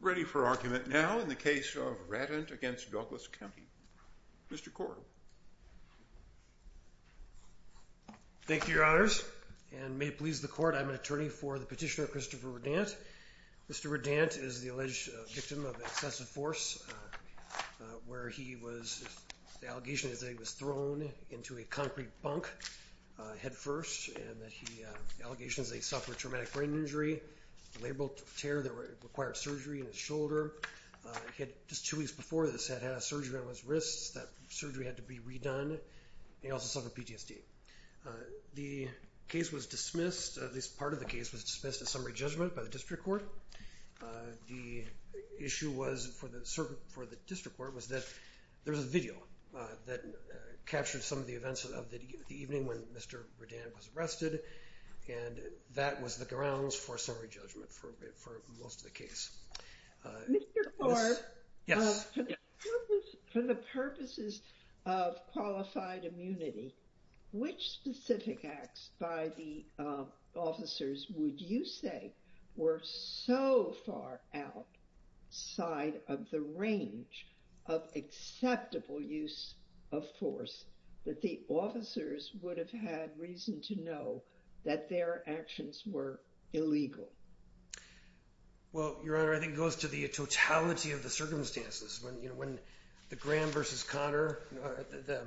Ready for argument now in the case of Raddant v. Douglas County. Mr. Corr. Thank you, Your Honors, and may it please the Court, I'm an attorney for the petitioner Christopher Raddant. Mr. Raddant is the alleged victim of excessive force, where he was, the allegation is that he was thrown into a concrete bunk headfirst, and that he, the allegation is that he suffered traumatic brain injury, a labral tear that required surgery in his shoulder. He had, just two weeks before this, had had a surgery on his wrists, that surgery had to be redone, and he also suffered PTSD. The case was dismissed, at least part of the case was dismissed as summary judgment by the District Court. The issue was, for the District Court, was that there was a video that captured some of the events of the evening when Mr. Raddant was arrested, and that was the grounds for summary judgment for most of the case. Mr. Corr, for the purposes of qualified immunity, which specific acts by the officers would you say were so far outside of the range of acceptable use of force, that the officers would have had reason to know that their actions were illegal? Well, Your Honor, I think it goes to the totality of the circumstances. When the Graham v. Conner, the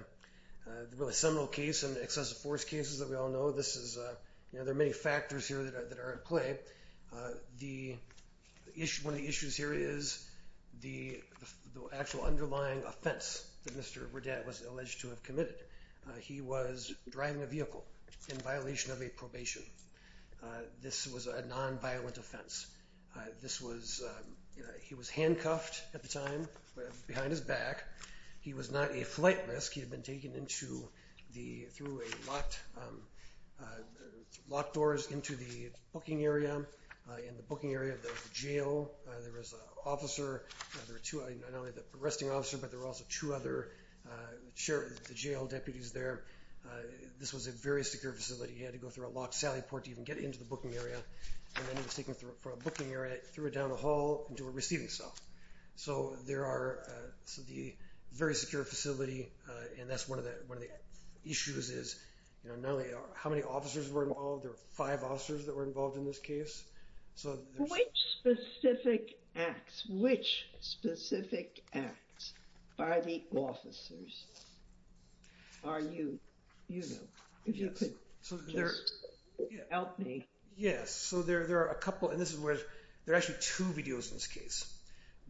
really seminal case and excessive force cases that we all know, there are many factors here that are at play. One of the issues here is the actual underlying offense that Mr. Raddant was alleged to have committed. He was driving a vehicle in violation of a probation. This was a nonviolent offense. He was handcuffed at the time, behind his back. He was not a flight risk. He had been taken through locked doors into the booking area. In the booking area, there was a jail. There was an officer, not only an arresting officer, but there were also two other jail deputies there. This was a very secure facility. He had to go through a locked sally port to even get into the booking area. And then he was taken through a booking area, threw it down a hall, and they were receiving stuff. So the very secure facility, and that's one of the issues, is not only how many officers were involved. There were five officers that were involved in this case. Which specific acts, which specific acts by the officers are you, you know, if you could? Help me. Yes. So there are a couple, and this is where, there are actually two videos in this case.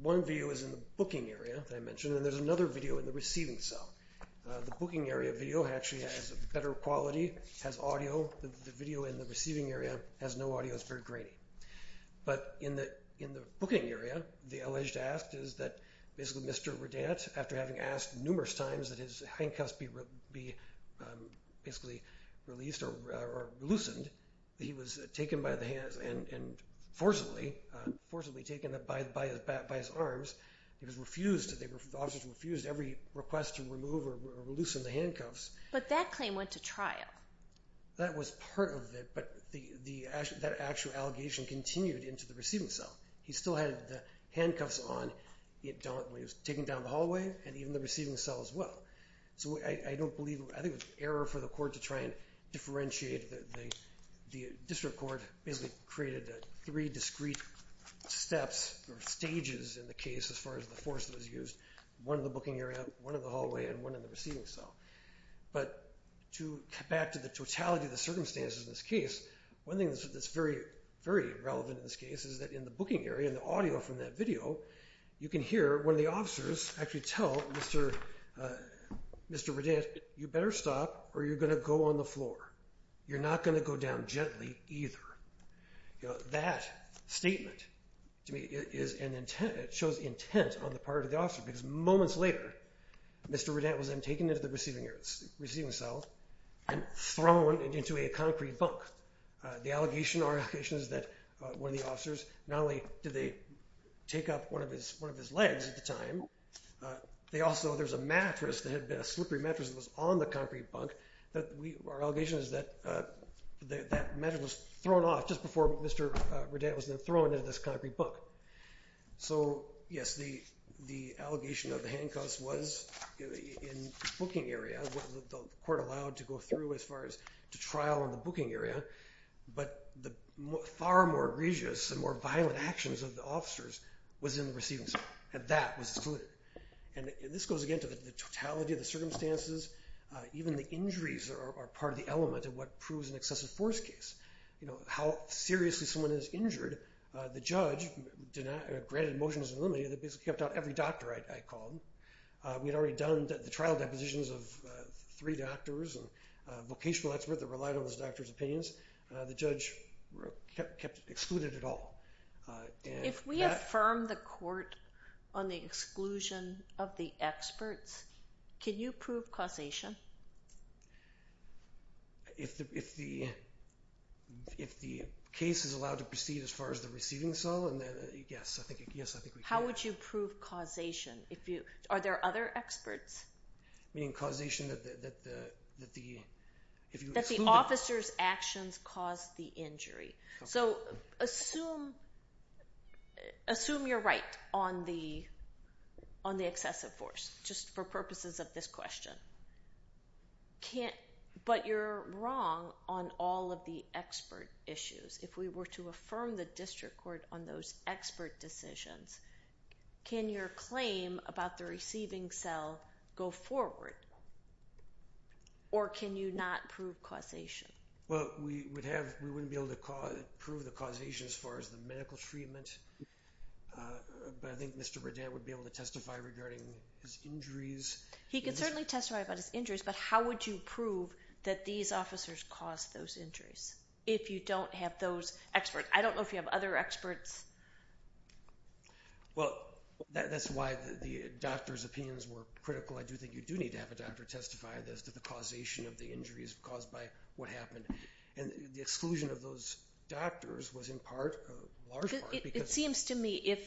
One video is in the booking area that I mentioned, and there's another video in the receiving cell. The booking area video actually has better quality, has audio. The video in the receiving area has no audio. It's very grainy. But in the booking area, the alleged act is that basically Mr. Raddant, after having asked numerous times that his handcuffs be basically released or loosened, he was taken by the hands and forcibly, forcibly taken by his arms. He was refused, the officers were refused every request to remove or loosen the handcuffs. But that claim went to trial. That was part of it, but that actual allegation continued into the receiving cell. He still had the handcuffs on when he was taken down the hallway and even the receiving cell as well. So I don't believe, I think it was an error for the court to try and differentiate. The district court basically created three discrete steps or stages in the case as far as the force that was used. One in the booking area, one in the hallway, and one in the receiving cell. But to get back to the totality of the circumstances in this case, one thing that's very, very relevant in this case is that in the booking area, in the audio from that video, you can hear one of the officers actually tell Mr. Raddant, you better stop or you're going to go on the floor. You're not going to go down gently either. That statement to me is an intent, it shows intent on the part of the officer because moments later, Mr. Raddant was then taken into the receiving cell and thrown into a concrete bunk. The allegation, our allegation is that one of the officers, not only did they take up one of his legs at the time, they also, there's a mattress that had been a slippery mattress that was on the concrete bunk. Our allegation is that that mattress was thrown off just before Mr. Raddant was then thrown into this concrete bunk. So yes, the allegation of the handcuffs was in the booking area, the court allowed to go through as far as to trial in the booking area, but the far more egregious and more violent actions of the officers was in the receiving cell, and that was excluded. And this goes again to the totality of the circumstances, even the injuries are part of the element of what proves an excessive force case. How seriously someone is injured, the judge granted motions of limity that basically kept out every doctor I called. We had already done the trial depositions of three doctors and a vocational expert that relied on those doctors' opinions. The judge kept excluded at all. If we affirm the court on the exclusion of the experts, can you prove causation? If the case is allowed to proceed as far as the receiving cell, then yes, I think we can. How would you prove causation? Are there other experts? Meaning causation that the... That the officers' actions caused the injury. So assume you're right on the excessive force, just for purposes of this question. But you're wrong on all of the expert issues. If we were to affirm the district court on those expert decisions, can your claim about the receiving cell go forward? Or can you not prove causation? Well, we wouldn't be able to prove the causation as far as the medical treatment. But I think Mr. Bredan would be able to testify regarding his injuries. He can certainly testify about his injuries, but how would you prove that these officers caused those injuries if you don't have those experts? I don't know if you have other experts. Well, that's why the doctors' opinions were critical. I do think you do need to have a doctor testify as to the causation of the injuries caused by what happened. And the exclusion of those doctors was in part, a large part... It seems to me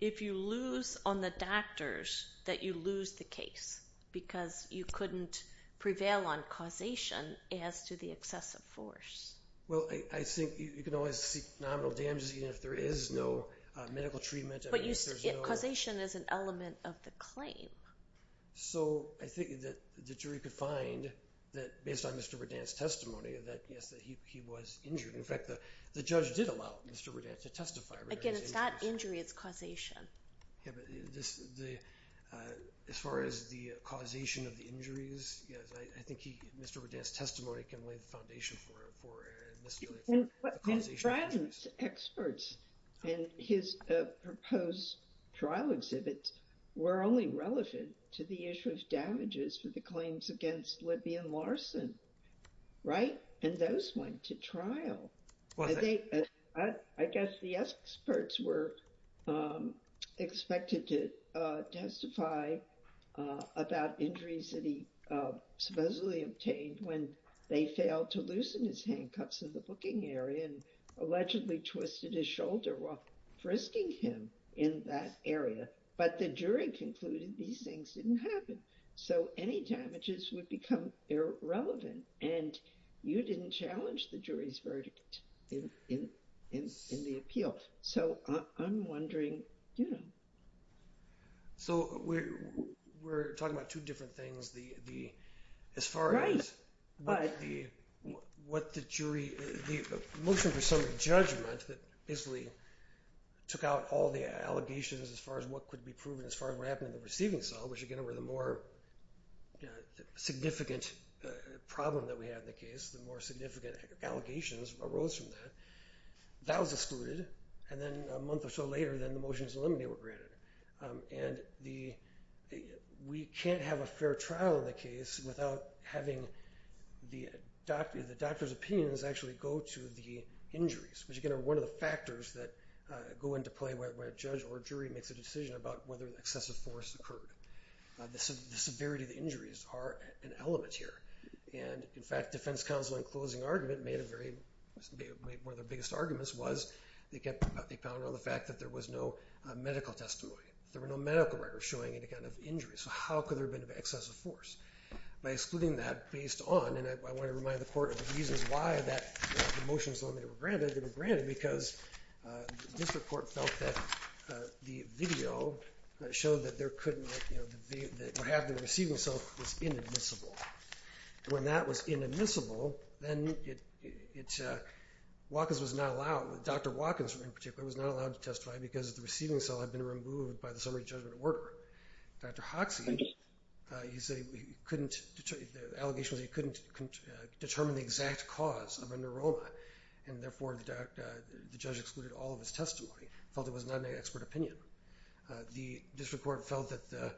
if you lose on the doctors, that you lose the case. Because you couldn't prevail on causation as to the excessive force. Well, I think you can always seek nominal damages even if there is no medical treatment. But causation is an element of the claim. So I think that the jury could find that based on Mr. Bredan's testimony that yes, he was injured. In fact, the judge did allow Mr. Bredan to testify regarding his injuries. Again, it's not injury, it's causation. Yeah, but as far as the causation of the injuries, I think Mr. Bredan's testimony can lay the foundation for... His friends, experts, and his proposed trial exhibits were only relevant to the issue of damages for the claims against Libby and Larson, right? And those went to trial. I guess the experts were expected to testify about injuries that he supposedly obtained when they failed to loosen his handcuffs in the booking area and allegedly twisted his shoulder while frisking him in that area. But the jury concluded these things didn't happen. So any damages would become irrelevant. And you didn't challenge the jury's verdict in the appeal. So I'm wondering, you know... So we're talking about two different things. As far as what the jury... The motion for summary judgment that basically took out all the allegations as far as what could be proven as far as what happened in the receiving cell, which, again, were the more significant problem that we had in the case, the more significant allegations arose from that. That was excluded. And then a month or so later, then the motions to eliminate were granted. And we can't have a fair trial in the case without having the doctor's opinions actually go to the injuries, which, again, are one of the factors that go into play when a judge or jury makes a decision about whether excessive force occurred. The severity of the injuries are an element here. And, in fact, defense counsel in closing argument made a very... One of their biggest arguments was they kept... They pounded on the fact that there was no medical testimony. There were no medical records showing any kind of injury. So how could there have been excessive force? By excluding that based on... And I want to remind the court of the reasons why that motion was eliminated or granted. It was granted because the district court felt that the video showed that there could not... That what happened in the receiving cell was inadmissible. And when that was inadmissible, then it... Watkins was not allowed... Dr. Watkins, in particular, was not allowed to testify because the receiving cell had been removed by the summary judgment order. Dr. Hoxie, he said he couldn't... The allegation was he couldn't determine the exact cause of a neuroma. And, therefore, the judge excluded all of his testimony, felt it was not an expert opinion. The district court felt that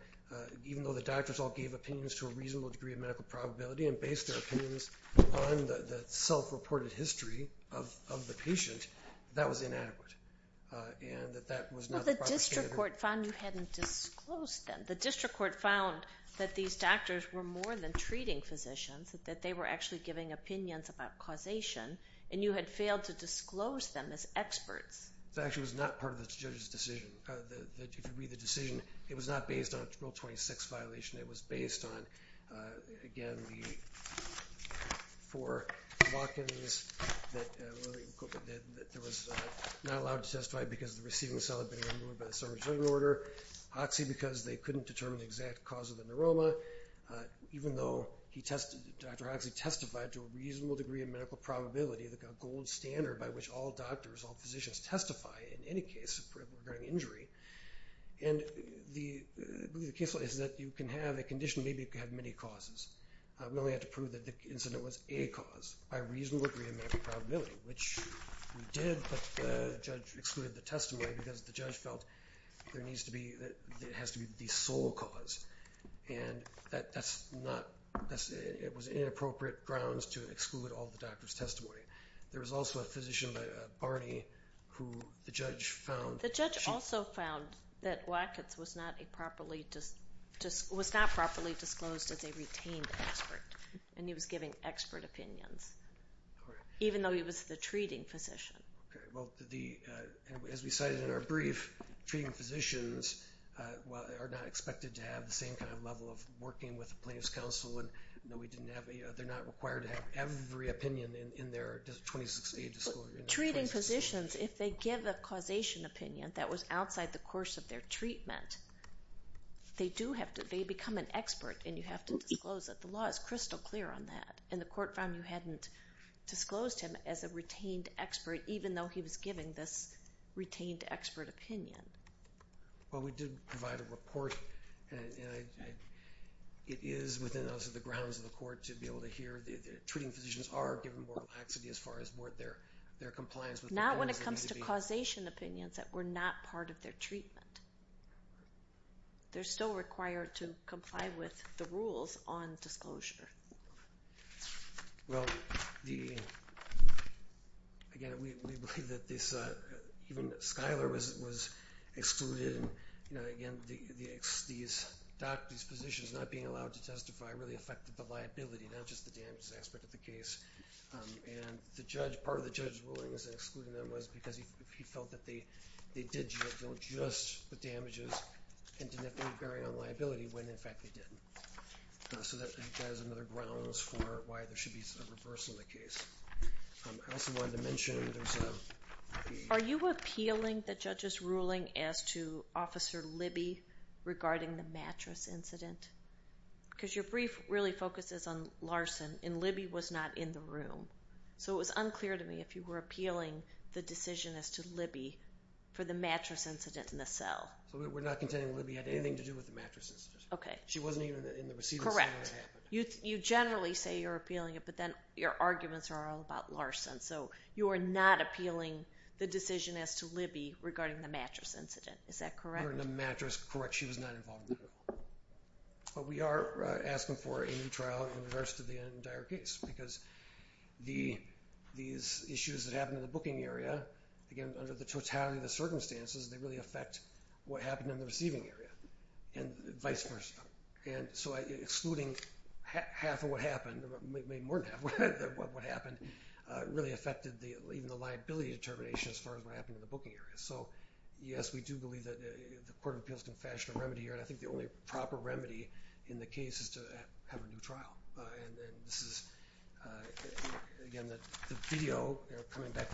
even though the doctors all gave opinions to a reasonable degree of medical probability and based their opinions on the self-reported history of the patient, that was inadequate. And that that was not the proper standard. The district court found you hadn't disclosed them. The district court found that these doctors were more than treating physicians, that they were actually giving opinions about causation, and you had failed to disclose them as experts. That actually was not part of the judge's decision. If you read the decision, it was not based on a Rule 26 violation. It was based on, again, the... for Watkins, that there was not allowed to testify because the receiving cell had been removed by the summary judgment order. Hoxie, because they couldn't determine the exact cause of the neuroma, even though Dr. Hoxie testified to a reasonable degree of medical probability, the gold standard by which all doctors, all physicians testify in any case regarding injury. And the case law is that you can have a condition, maybe it can have many causes. We only had to prove that the incident was a cause by reasonable degree of medical probability, which we did, but the judge excluded the testimony because the judge felt there needs to be... it has to be the sole cause. And that's not... it was inappropriate grounds to exclude all the doctors' testimony. There was also a physician, Barney, who the judge found... The judge also found that Watkins was not properly disclosed as a retained expert, and he was giving expert opinions, even though he was the treating physician. Okay, well, as we cited in our brief, treating physicians are not expected to have the same kind of level of working with a plaintiff's counsel, and they're not required to have every opinion in their 26A disclosure. Treating physicians, if they give a causation opinion that was outside the course of their treatment, they do have to... they become an expert, and you have to disclose it. The law is crystal clear on that, and the court found you hadn't disclosed him as a retained expert, even though he was giving this retained expert opinion. Well, we did provide a report, and it is within the grounds of the court to be able to hear... treating physicians are given more laxity as far as their compliance... Not when it comes to causation opinions that were not part of their treatment. They're still required to comply with the rules on disclosure. Well, again, we believe that this... even Schuyler was excluded. Again, these doctors' positions not being allowed to testify really affected the liability, not just the damages aspect of the case. And the judge... part of the judge's ruling was excluding them was because he felt that they did deal just the damages and didn't have to be bearing on liability when, in fact, they didn't. So that is another grounds for why there should be a reversal of the case. I also wanted to mention there's a... Are you appealing the judge's ruling as to Officer Libby regarding the mattress incident? Because your brief really focuses on Larson, and Libby was not in the room. So it was unclear to me if you were appealing the decision as to Libby for the mattress incident in the cell. We're not contending Libby had anything to do with the mattress incident. Okay. She wasn't even in the receiving center when it happened. You generally say you're appealing it, but then your arguments are all about Larson. So you are not appealing the decision as to Libby regarding the mattress incident. Is that correct? We are asking for a new trial in reverse to the entire case because these issues that happened in the booking area, again, under the totality of the circumstances, they really affect what happened in the receiving area and vice versa. And so excluding half of what happened, maybe more than half of what happened, really affected even the liability determination as far as what happened in the booking area. So, yes, we do believe that the Court of Appeals can fashion a remedy here, and I think the only proper remedy in the case is to have a new trial. And this is, again, the video, coming back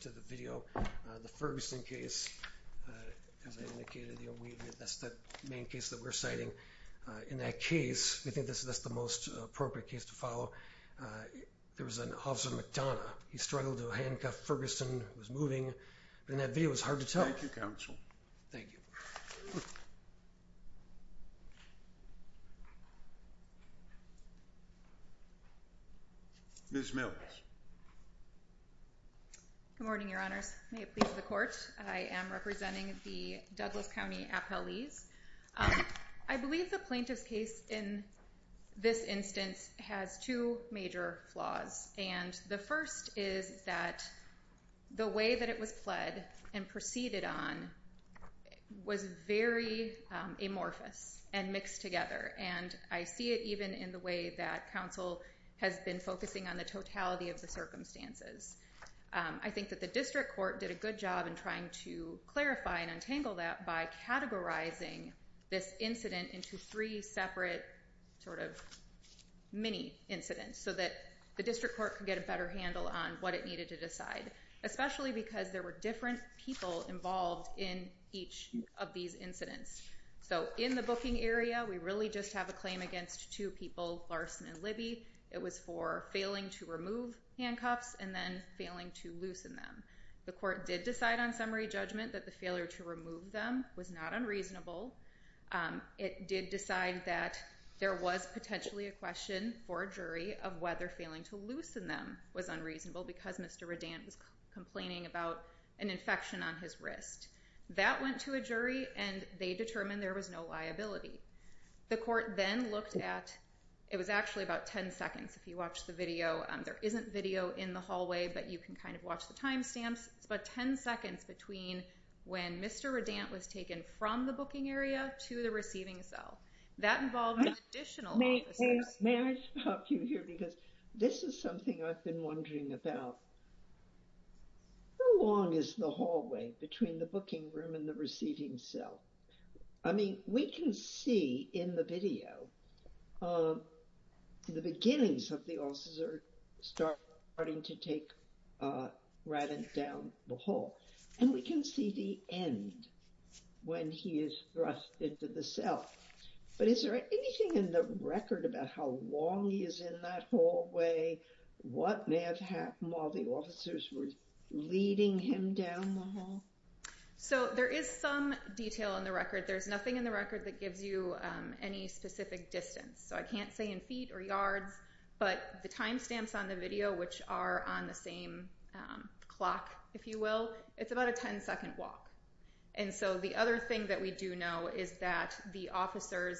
to the video, the Ferguson case, as I indicated, that's the main case that we're citing. In that case, we think that's the most appropriate case to follow, there was an officer in McDonough. He struggled to handcuff Ferguson who was moving. And that video is hard to tell. Thank you. Ms. Mills. Good morning, Your Honors. May it please the Court. I am representing the Douglas County Appellees. I believe the plaintiff's case in this instance has two major flaws, and the first is that the way that it was pled and proceeded on was very amorphous and mixed together, and I see it even in the way that counsel has been focusing on the totality of the circumstances. I think that the district court did a good job in trying to clarify and untangle that by categorizing this incident into three separate sort of mini incidents so that the district court could get a better handle on what it needed to decide, especially because there were different people involved in each of these incidents. So in the booking area, we really just have a claim against two people, Larson and Libby. It was for failing to remove handcuffs and then failing to loosen them. The court did decide on summary judgment that the failure to remove them was not unreasonable. It did decide that there was potentially a question for a jury of whether failing to loosen them was unreasonable because Mr. Reddant was complaining about an infection on his wrist. That went to a jury, and they determined there was no liability. The court then looked at, it was actually about 10 seconds if you watch the video. There isn't video in the hallway, but you can kind of watch the timestamps. It's about 10 seconds between when Mr. Reddant was taken from the booking area to the receiving cell. That involved additional officers. May I stop you here because this is something I've been wondering about. How long is the hallway between the booking room and the receiving cell? I mean, we can see in the video the beginnings of the officer starting to take Reddant down the hall. And we can see the end when he is thrust into the cell. But is there anything in the record about how long he is in that hallway? What may have happened while the officers were leading him down the hall? So there is some detail in the record. There's nothing in the record that gives you any specific distance. So I can't say in feet or yards, but the timestamps on the video, which are on the same clock, if you will, it's about a 10-second walk. And so the other thing that we do know is that the officers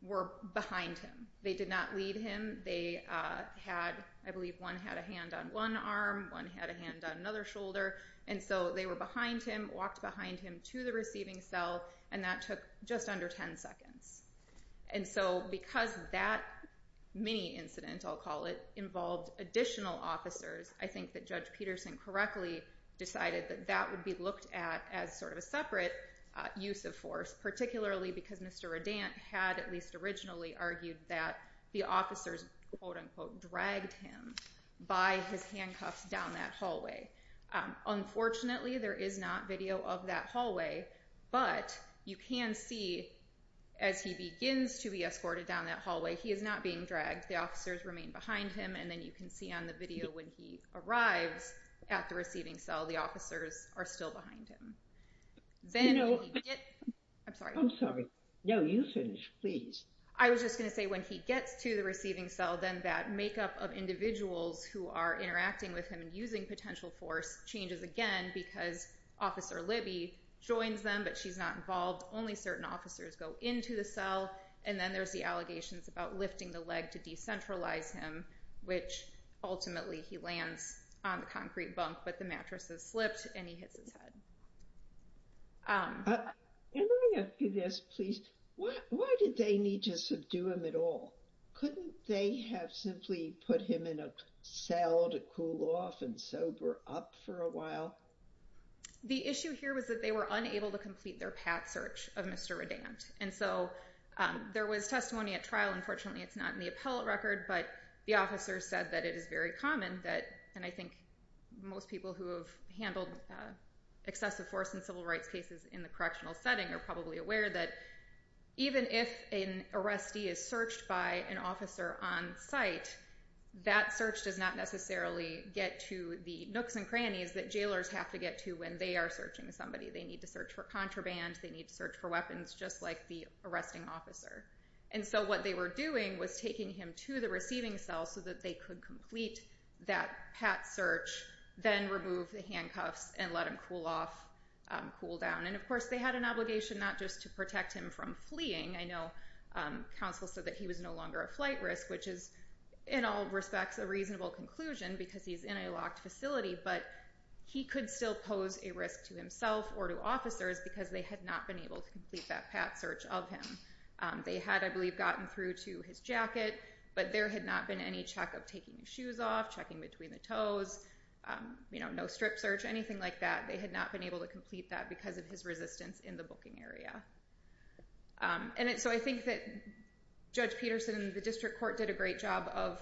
were behind him. They did not lead him. They had, I believe one had a hand on one arm, one had a hand on another shoulder. And so they were behind him, walked behind him to the receiving cell, and that took just under 10 seconds. And so because that mini-incident, I'll call it, involved additional officers, I think that Judge Peterson correctly decided that that would be looked at as sort of a separate use of force, particularly because Mr. Reddant had at least originally argued that the officers, quote-unquote, dragged him by his handcuffs down that hallway. Unfortunately, there is not video of that hallway, but you can see as he begins to be escorted down that hallway, he is not being dragged. The officers remain behind him, and then you can see on the video when he arrives at the receiving cell, the officers are still behind him. Then when he gets... I'm sorry. I'm sorry. No, you finish, please. I was just going to say when he gets to the receiving cell, then that makeup of individuals who are interacting with him and using potential force changes again because Officer Libby joins them, but she's not involved. Only certain officers go into the cell. And then there's the allegations about lifting the leg to decentralize him, which ultimately he lands on the concrete bunk, but the mattress has slipped, and he hits his head. Can I ask you this, please? Why did they need to subdue him at all? Couldn't they have simply put him in a cell to cool off and sober up for a while? The issue here was that they were unable to complete their path search of Mr. Reddant, and so there was testimony at trial. Unfortunately, it's not in the appellate record, but the officers said that it is very common that, and I think most people who have handled excessive force in civil rights cases in the correctional setting are probably aware that even if an arrestee is searched by an officer on site, that search does not necessarily get to the nooks and crannies that jailers have to get to when they are searching somebody. They need to search for contraband. They need to search for weapons, just like the arresting officer. And so what they were doing was taking him to the receiving cell so that they could complete that path search, then remove the handcuffs and let him cool off, cool down. And, of course, they had an obligation not just to protect him from fleeing. I know counsel said that he was no longer a flight risk, which is, in all respects, a reasonable conclusion because he's in a locked facility, but he could still pose a risk to himself or to officers because they had not been able to complete that path search of him. They had, I believe, gotten through to his jacket, but there had not been any check of taking his shoes off, checking between the toes, no strip search, anything like that. They had not been able to complete that because of his resistance in the booking area. And so I think that Judge Peterson and the district court did a great job of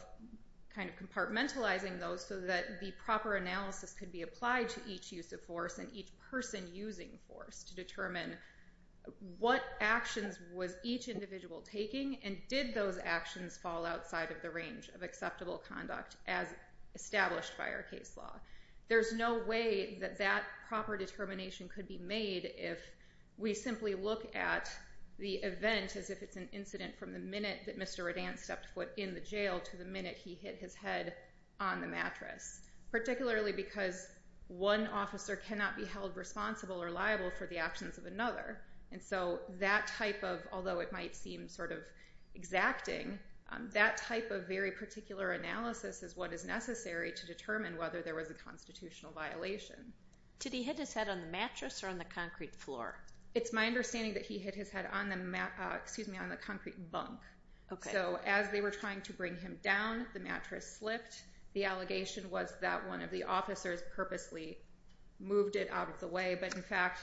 kind of compartmentalizing those so that the proper analysis could be applied to each use of force and each person using force to determine what actions was each individual taking and did those actions fall outside of the range of acceptable conduct as established by our case law. There's no way that that proper determination could be made if we simply look at the event as if it's an incident from the minute that Mr. Redan stepped foot in the jail to the minute he hit his head on the mattress, particularly because one officer cannot be held responsible or liable for the actions of another. And so that type of, although it might seem sort of exacting, that type of very particular analysis is what is necessary to determine whether there was a constitutional violation. Did he hit his head on the mattress or on the concrete floor? It's my understanding that he hit his head on the concrete bunk. So as they were trying to bring him down, the mattress slipped. The allegation was that one of the officers purposely moved it out of the way. But in fact,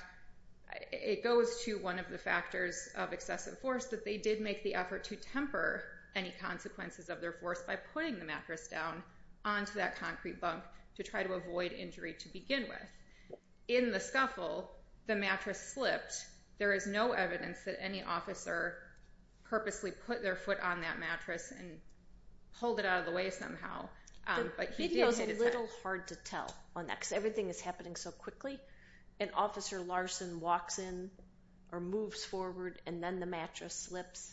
it goes to one of the factors of excessive force that they did make the effort to temper any consequences of their force by putting the mattress down onto that concrete bunk to try to avoid injury to begin with. In the scuffle, the mattress slipped. There is no evidence that any officer purposely put their foot on that mattress and pulled it out of the way somehow. But he did hit his head. The video is a little hard to tell on that because everything is happening so quickly. An officer, Larson, walks in or moves forward and then the mattress slips.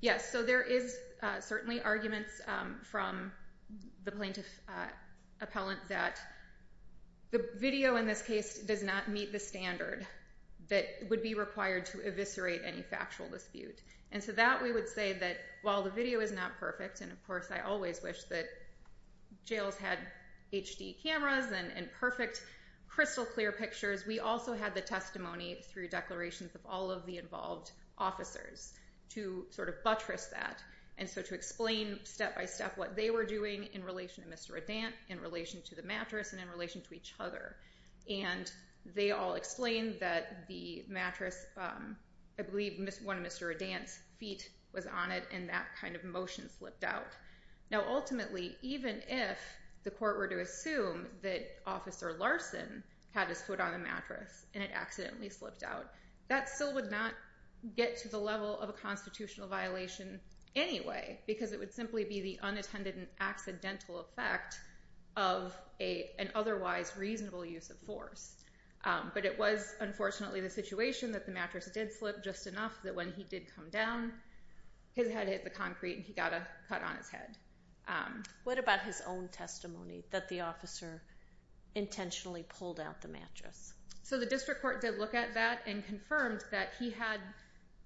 Yes. So there is certainly arguments from the plaintiff appellant that the video in this case does not meet the standard that would be required to eviscerate any factual dispute. And so that we would say that while the video is not perfect, and of course I always wish that jails had HD cameras and perfect crystal clear pictures, we also had the testimony through declarations of all of the involved officers to sort of buttress that and so to explain step by step what they were doing in relation to Mr. Reddant, in relation to the mattress, and in relation to each other. And they all explained that the mattress, I believe one of Mr. Reddant's feet was on it and that kind of motion slipped out. Now ultimately, even if the court were to assume that Officer Larson had his foot on the mattress and it accidentally slipped out, that still would not get to the level of a constitutional violation anyway because it would simply be the unattended and accidental effect of an otherwise reasonable use of force. But it was unfortunately the situation that the mattress did slip just enough that when he did come down, his head hit the concrete and he got a cut on his head. What about his own testimony that the officer intentionally pulled out the mattress? So the district court did look at that and confirmed that he had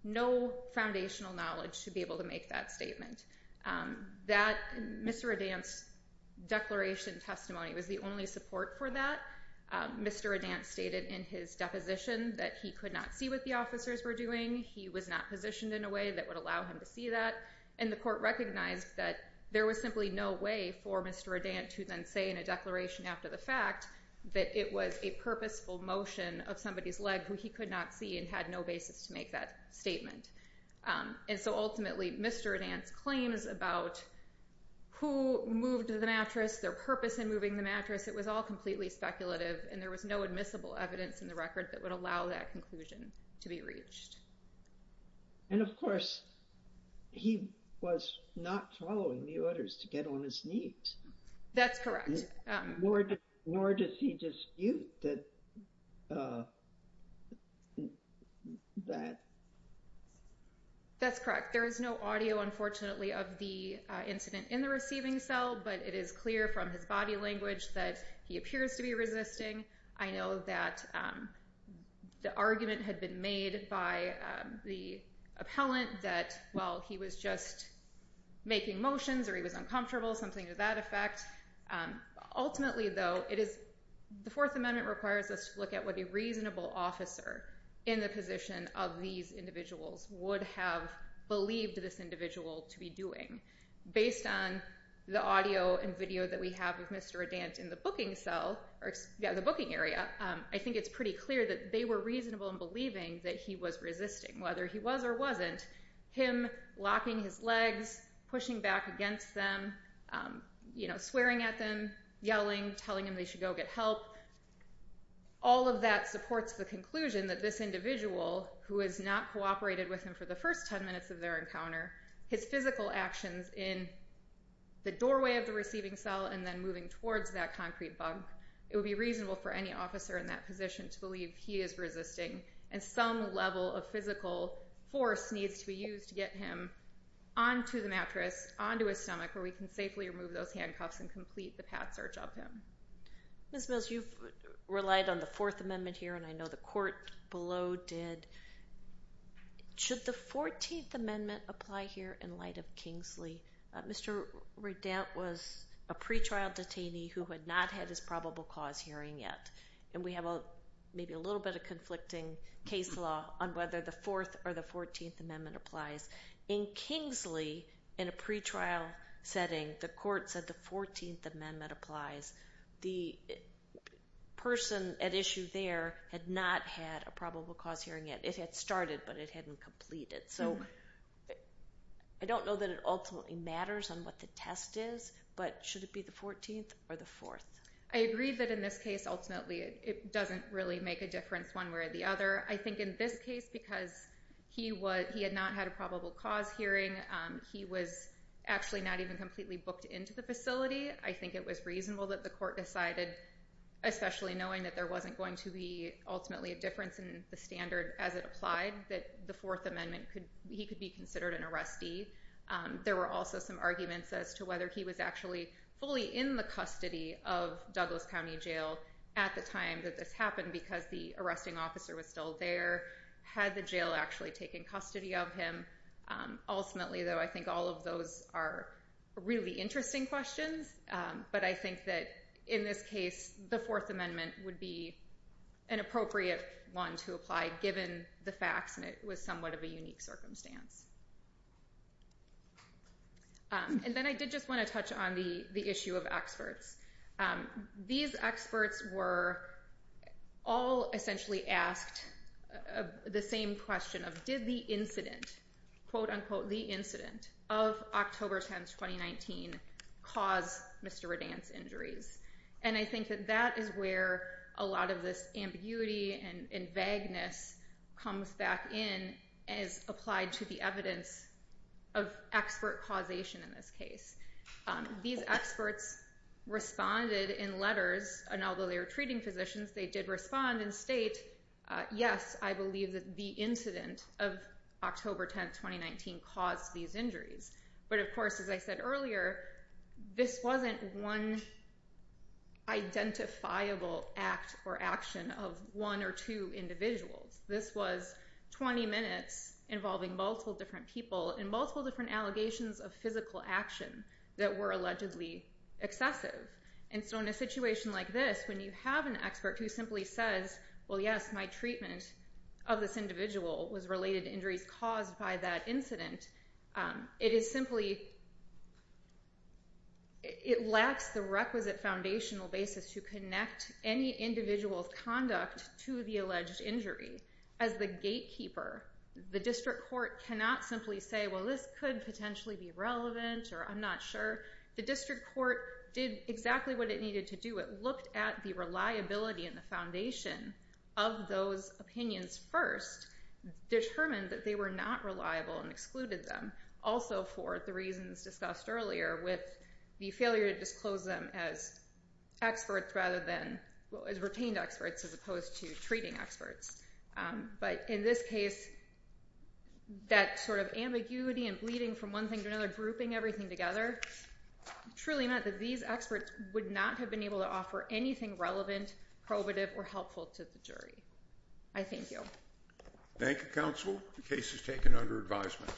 no foundational knowledge to be able to make that statement. Mr. Reddant's declaration testimony was the only support for that. Mr. Reddant stated in his deposition that he could not see what the officers were doing. He was not positioned in a way that would allow him to see that. And the court recognized that there was simply no way for Mr. Reddant to then say in a declaration after the fact that it was a purposeful motion of somebody's leg who he could not see and had no basis to make that statement. And so ultimately Mr. Reddant's claims about who moved the mattress, their purpose in moving the mattress, it was all completely speculative and there was no admissible evidence in the record that would allow that conclusion to be reached. And of course he was not following the orders to get on his knees. That's correct. Nor does he dispute that. That's correct. There is no audio, unfortunately, of the incident in the receiving cell, but it is clear from his body language that he appears to be resisting. I know that the argument had been made by the appellant that, well, he was just making motions or he was uncomfortable, something to that effect. Ultimately, though, the Fourth Amendment requires us to look at what a reasonable officer in the position of these individuals would have believed this individual to be doing. Based on the audio and video that we have of Mr. Reddant in the booking area, I think it's pretty clear that they were reasonable in believing that he was resisting. Whether he was or wasn't, him locking his legs, pushing back against them, swearing at them, yelling, telling them they should go get help, all of that supports the conclusion that this individual, who has not cooperated with him for the first 10 minutes of their encounter, his physical actions in the doorway of the receiving cell and then moving towards that concrete bunk, it would be reasonable for any officer in that position to believe he is resisting and some level of physical force needs to be used to get him onto the mattress, onto his stomach where we can safely remove those handcuffs and complete the path search of him. Ms. Mills, you've relied on the Fourth Amendment here, and I know the court below did. Should the Fourteenth Amendment apply here in light of Kingsley? Mr. Reddant was a pretrial detainee who had not had his probable cause hearing yet, and we have maybe a little bit of conflicting case law on whether the Fourth or the Fourteenth Amendment applies. In Kingsley, in a pretrial setting, the court said the Fourteenth Amendment applies. The person at issue there had not had a probable cause hearing yet. It had started, but it hadn't completed. So I don't know that it ultimately matters on what the test is, but should it be the Fourteenth or the Fourth? I agree that in this case, ultimately, it doesn't really make a difference one way or the other. I think in this case, because he had not had a probable cause hearing, he was actually not even completely booked into the facility. I think it was reasonable that the court decided, especially knowing that there wasn't going to be ultimately a difference in the standard as it applied, that the Fourth Amendment, he could be considered an arrestee. There were also some arguments as to whether he was actually fully in the custody of Douglas County Jail at the time that this happened, because the arresting officer was still there. Had the jail actually taken custody of him? Ultimately, though, I think all of those are really interesting questions, but I think that in this case, the Fourth Amendment would be an appropriate one to apply, given the facts, and it was somewhat of a unique circumstance. And then I did just want to touch on the issue of experts. These experts were all essentially asked the same question of, did the incident, quote, unquote, the incident of October 10, 2019, cause Mr. Redan's injuries? And I think that that is where a lot of this ambiguity and vagueness comes back in, as applied to the evidence of expert causation in this case. These experts responded in letters, and although they were treating physicians, they did respond and state, yes, I believe that the incident of October 10, 2019, caused these injuries. But of course, as I said earlier, this wasn't one identifiable act or action of one or two individuals. This was 20 minutes involving multiple different people and multiple different allegations of physical action that were allegedly excessive. And so in a situation like this, when you have an expert who simply says, well, yes, my treatment of this individual was related to injuries caused by that incident, it is simply, it lacks the requisite foundational basis to connect any individual's conduct to the alleged injury. As the gatekeeper, the district court cannot simply say, well, this could potentially be relevant, or I'm not sure. The district court did exactly what it needed to do. It looked at the reliability and the foundation of those opinions first, determined that they were not reliable and excluded them, also for the reasons discussed earlier with the failure to disclose them as retained experts as opposed to treating experts. But in this case, that sort of ambiguity and bleeding from one thing to another, grouping everything together, truly meant that these experts would not have been able to offer anything relevant, probative, or helpful to the jury. I thank you. Thank you, counsel. The case is taken under advisement.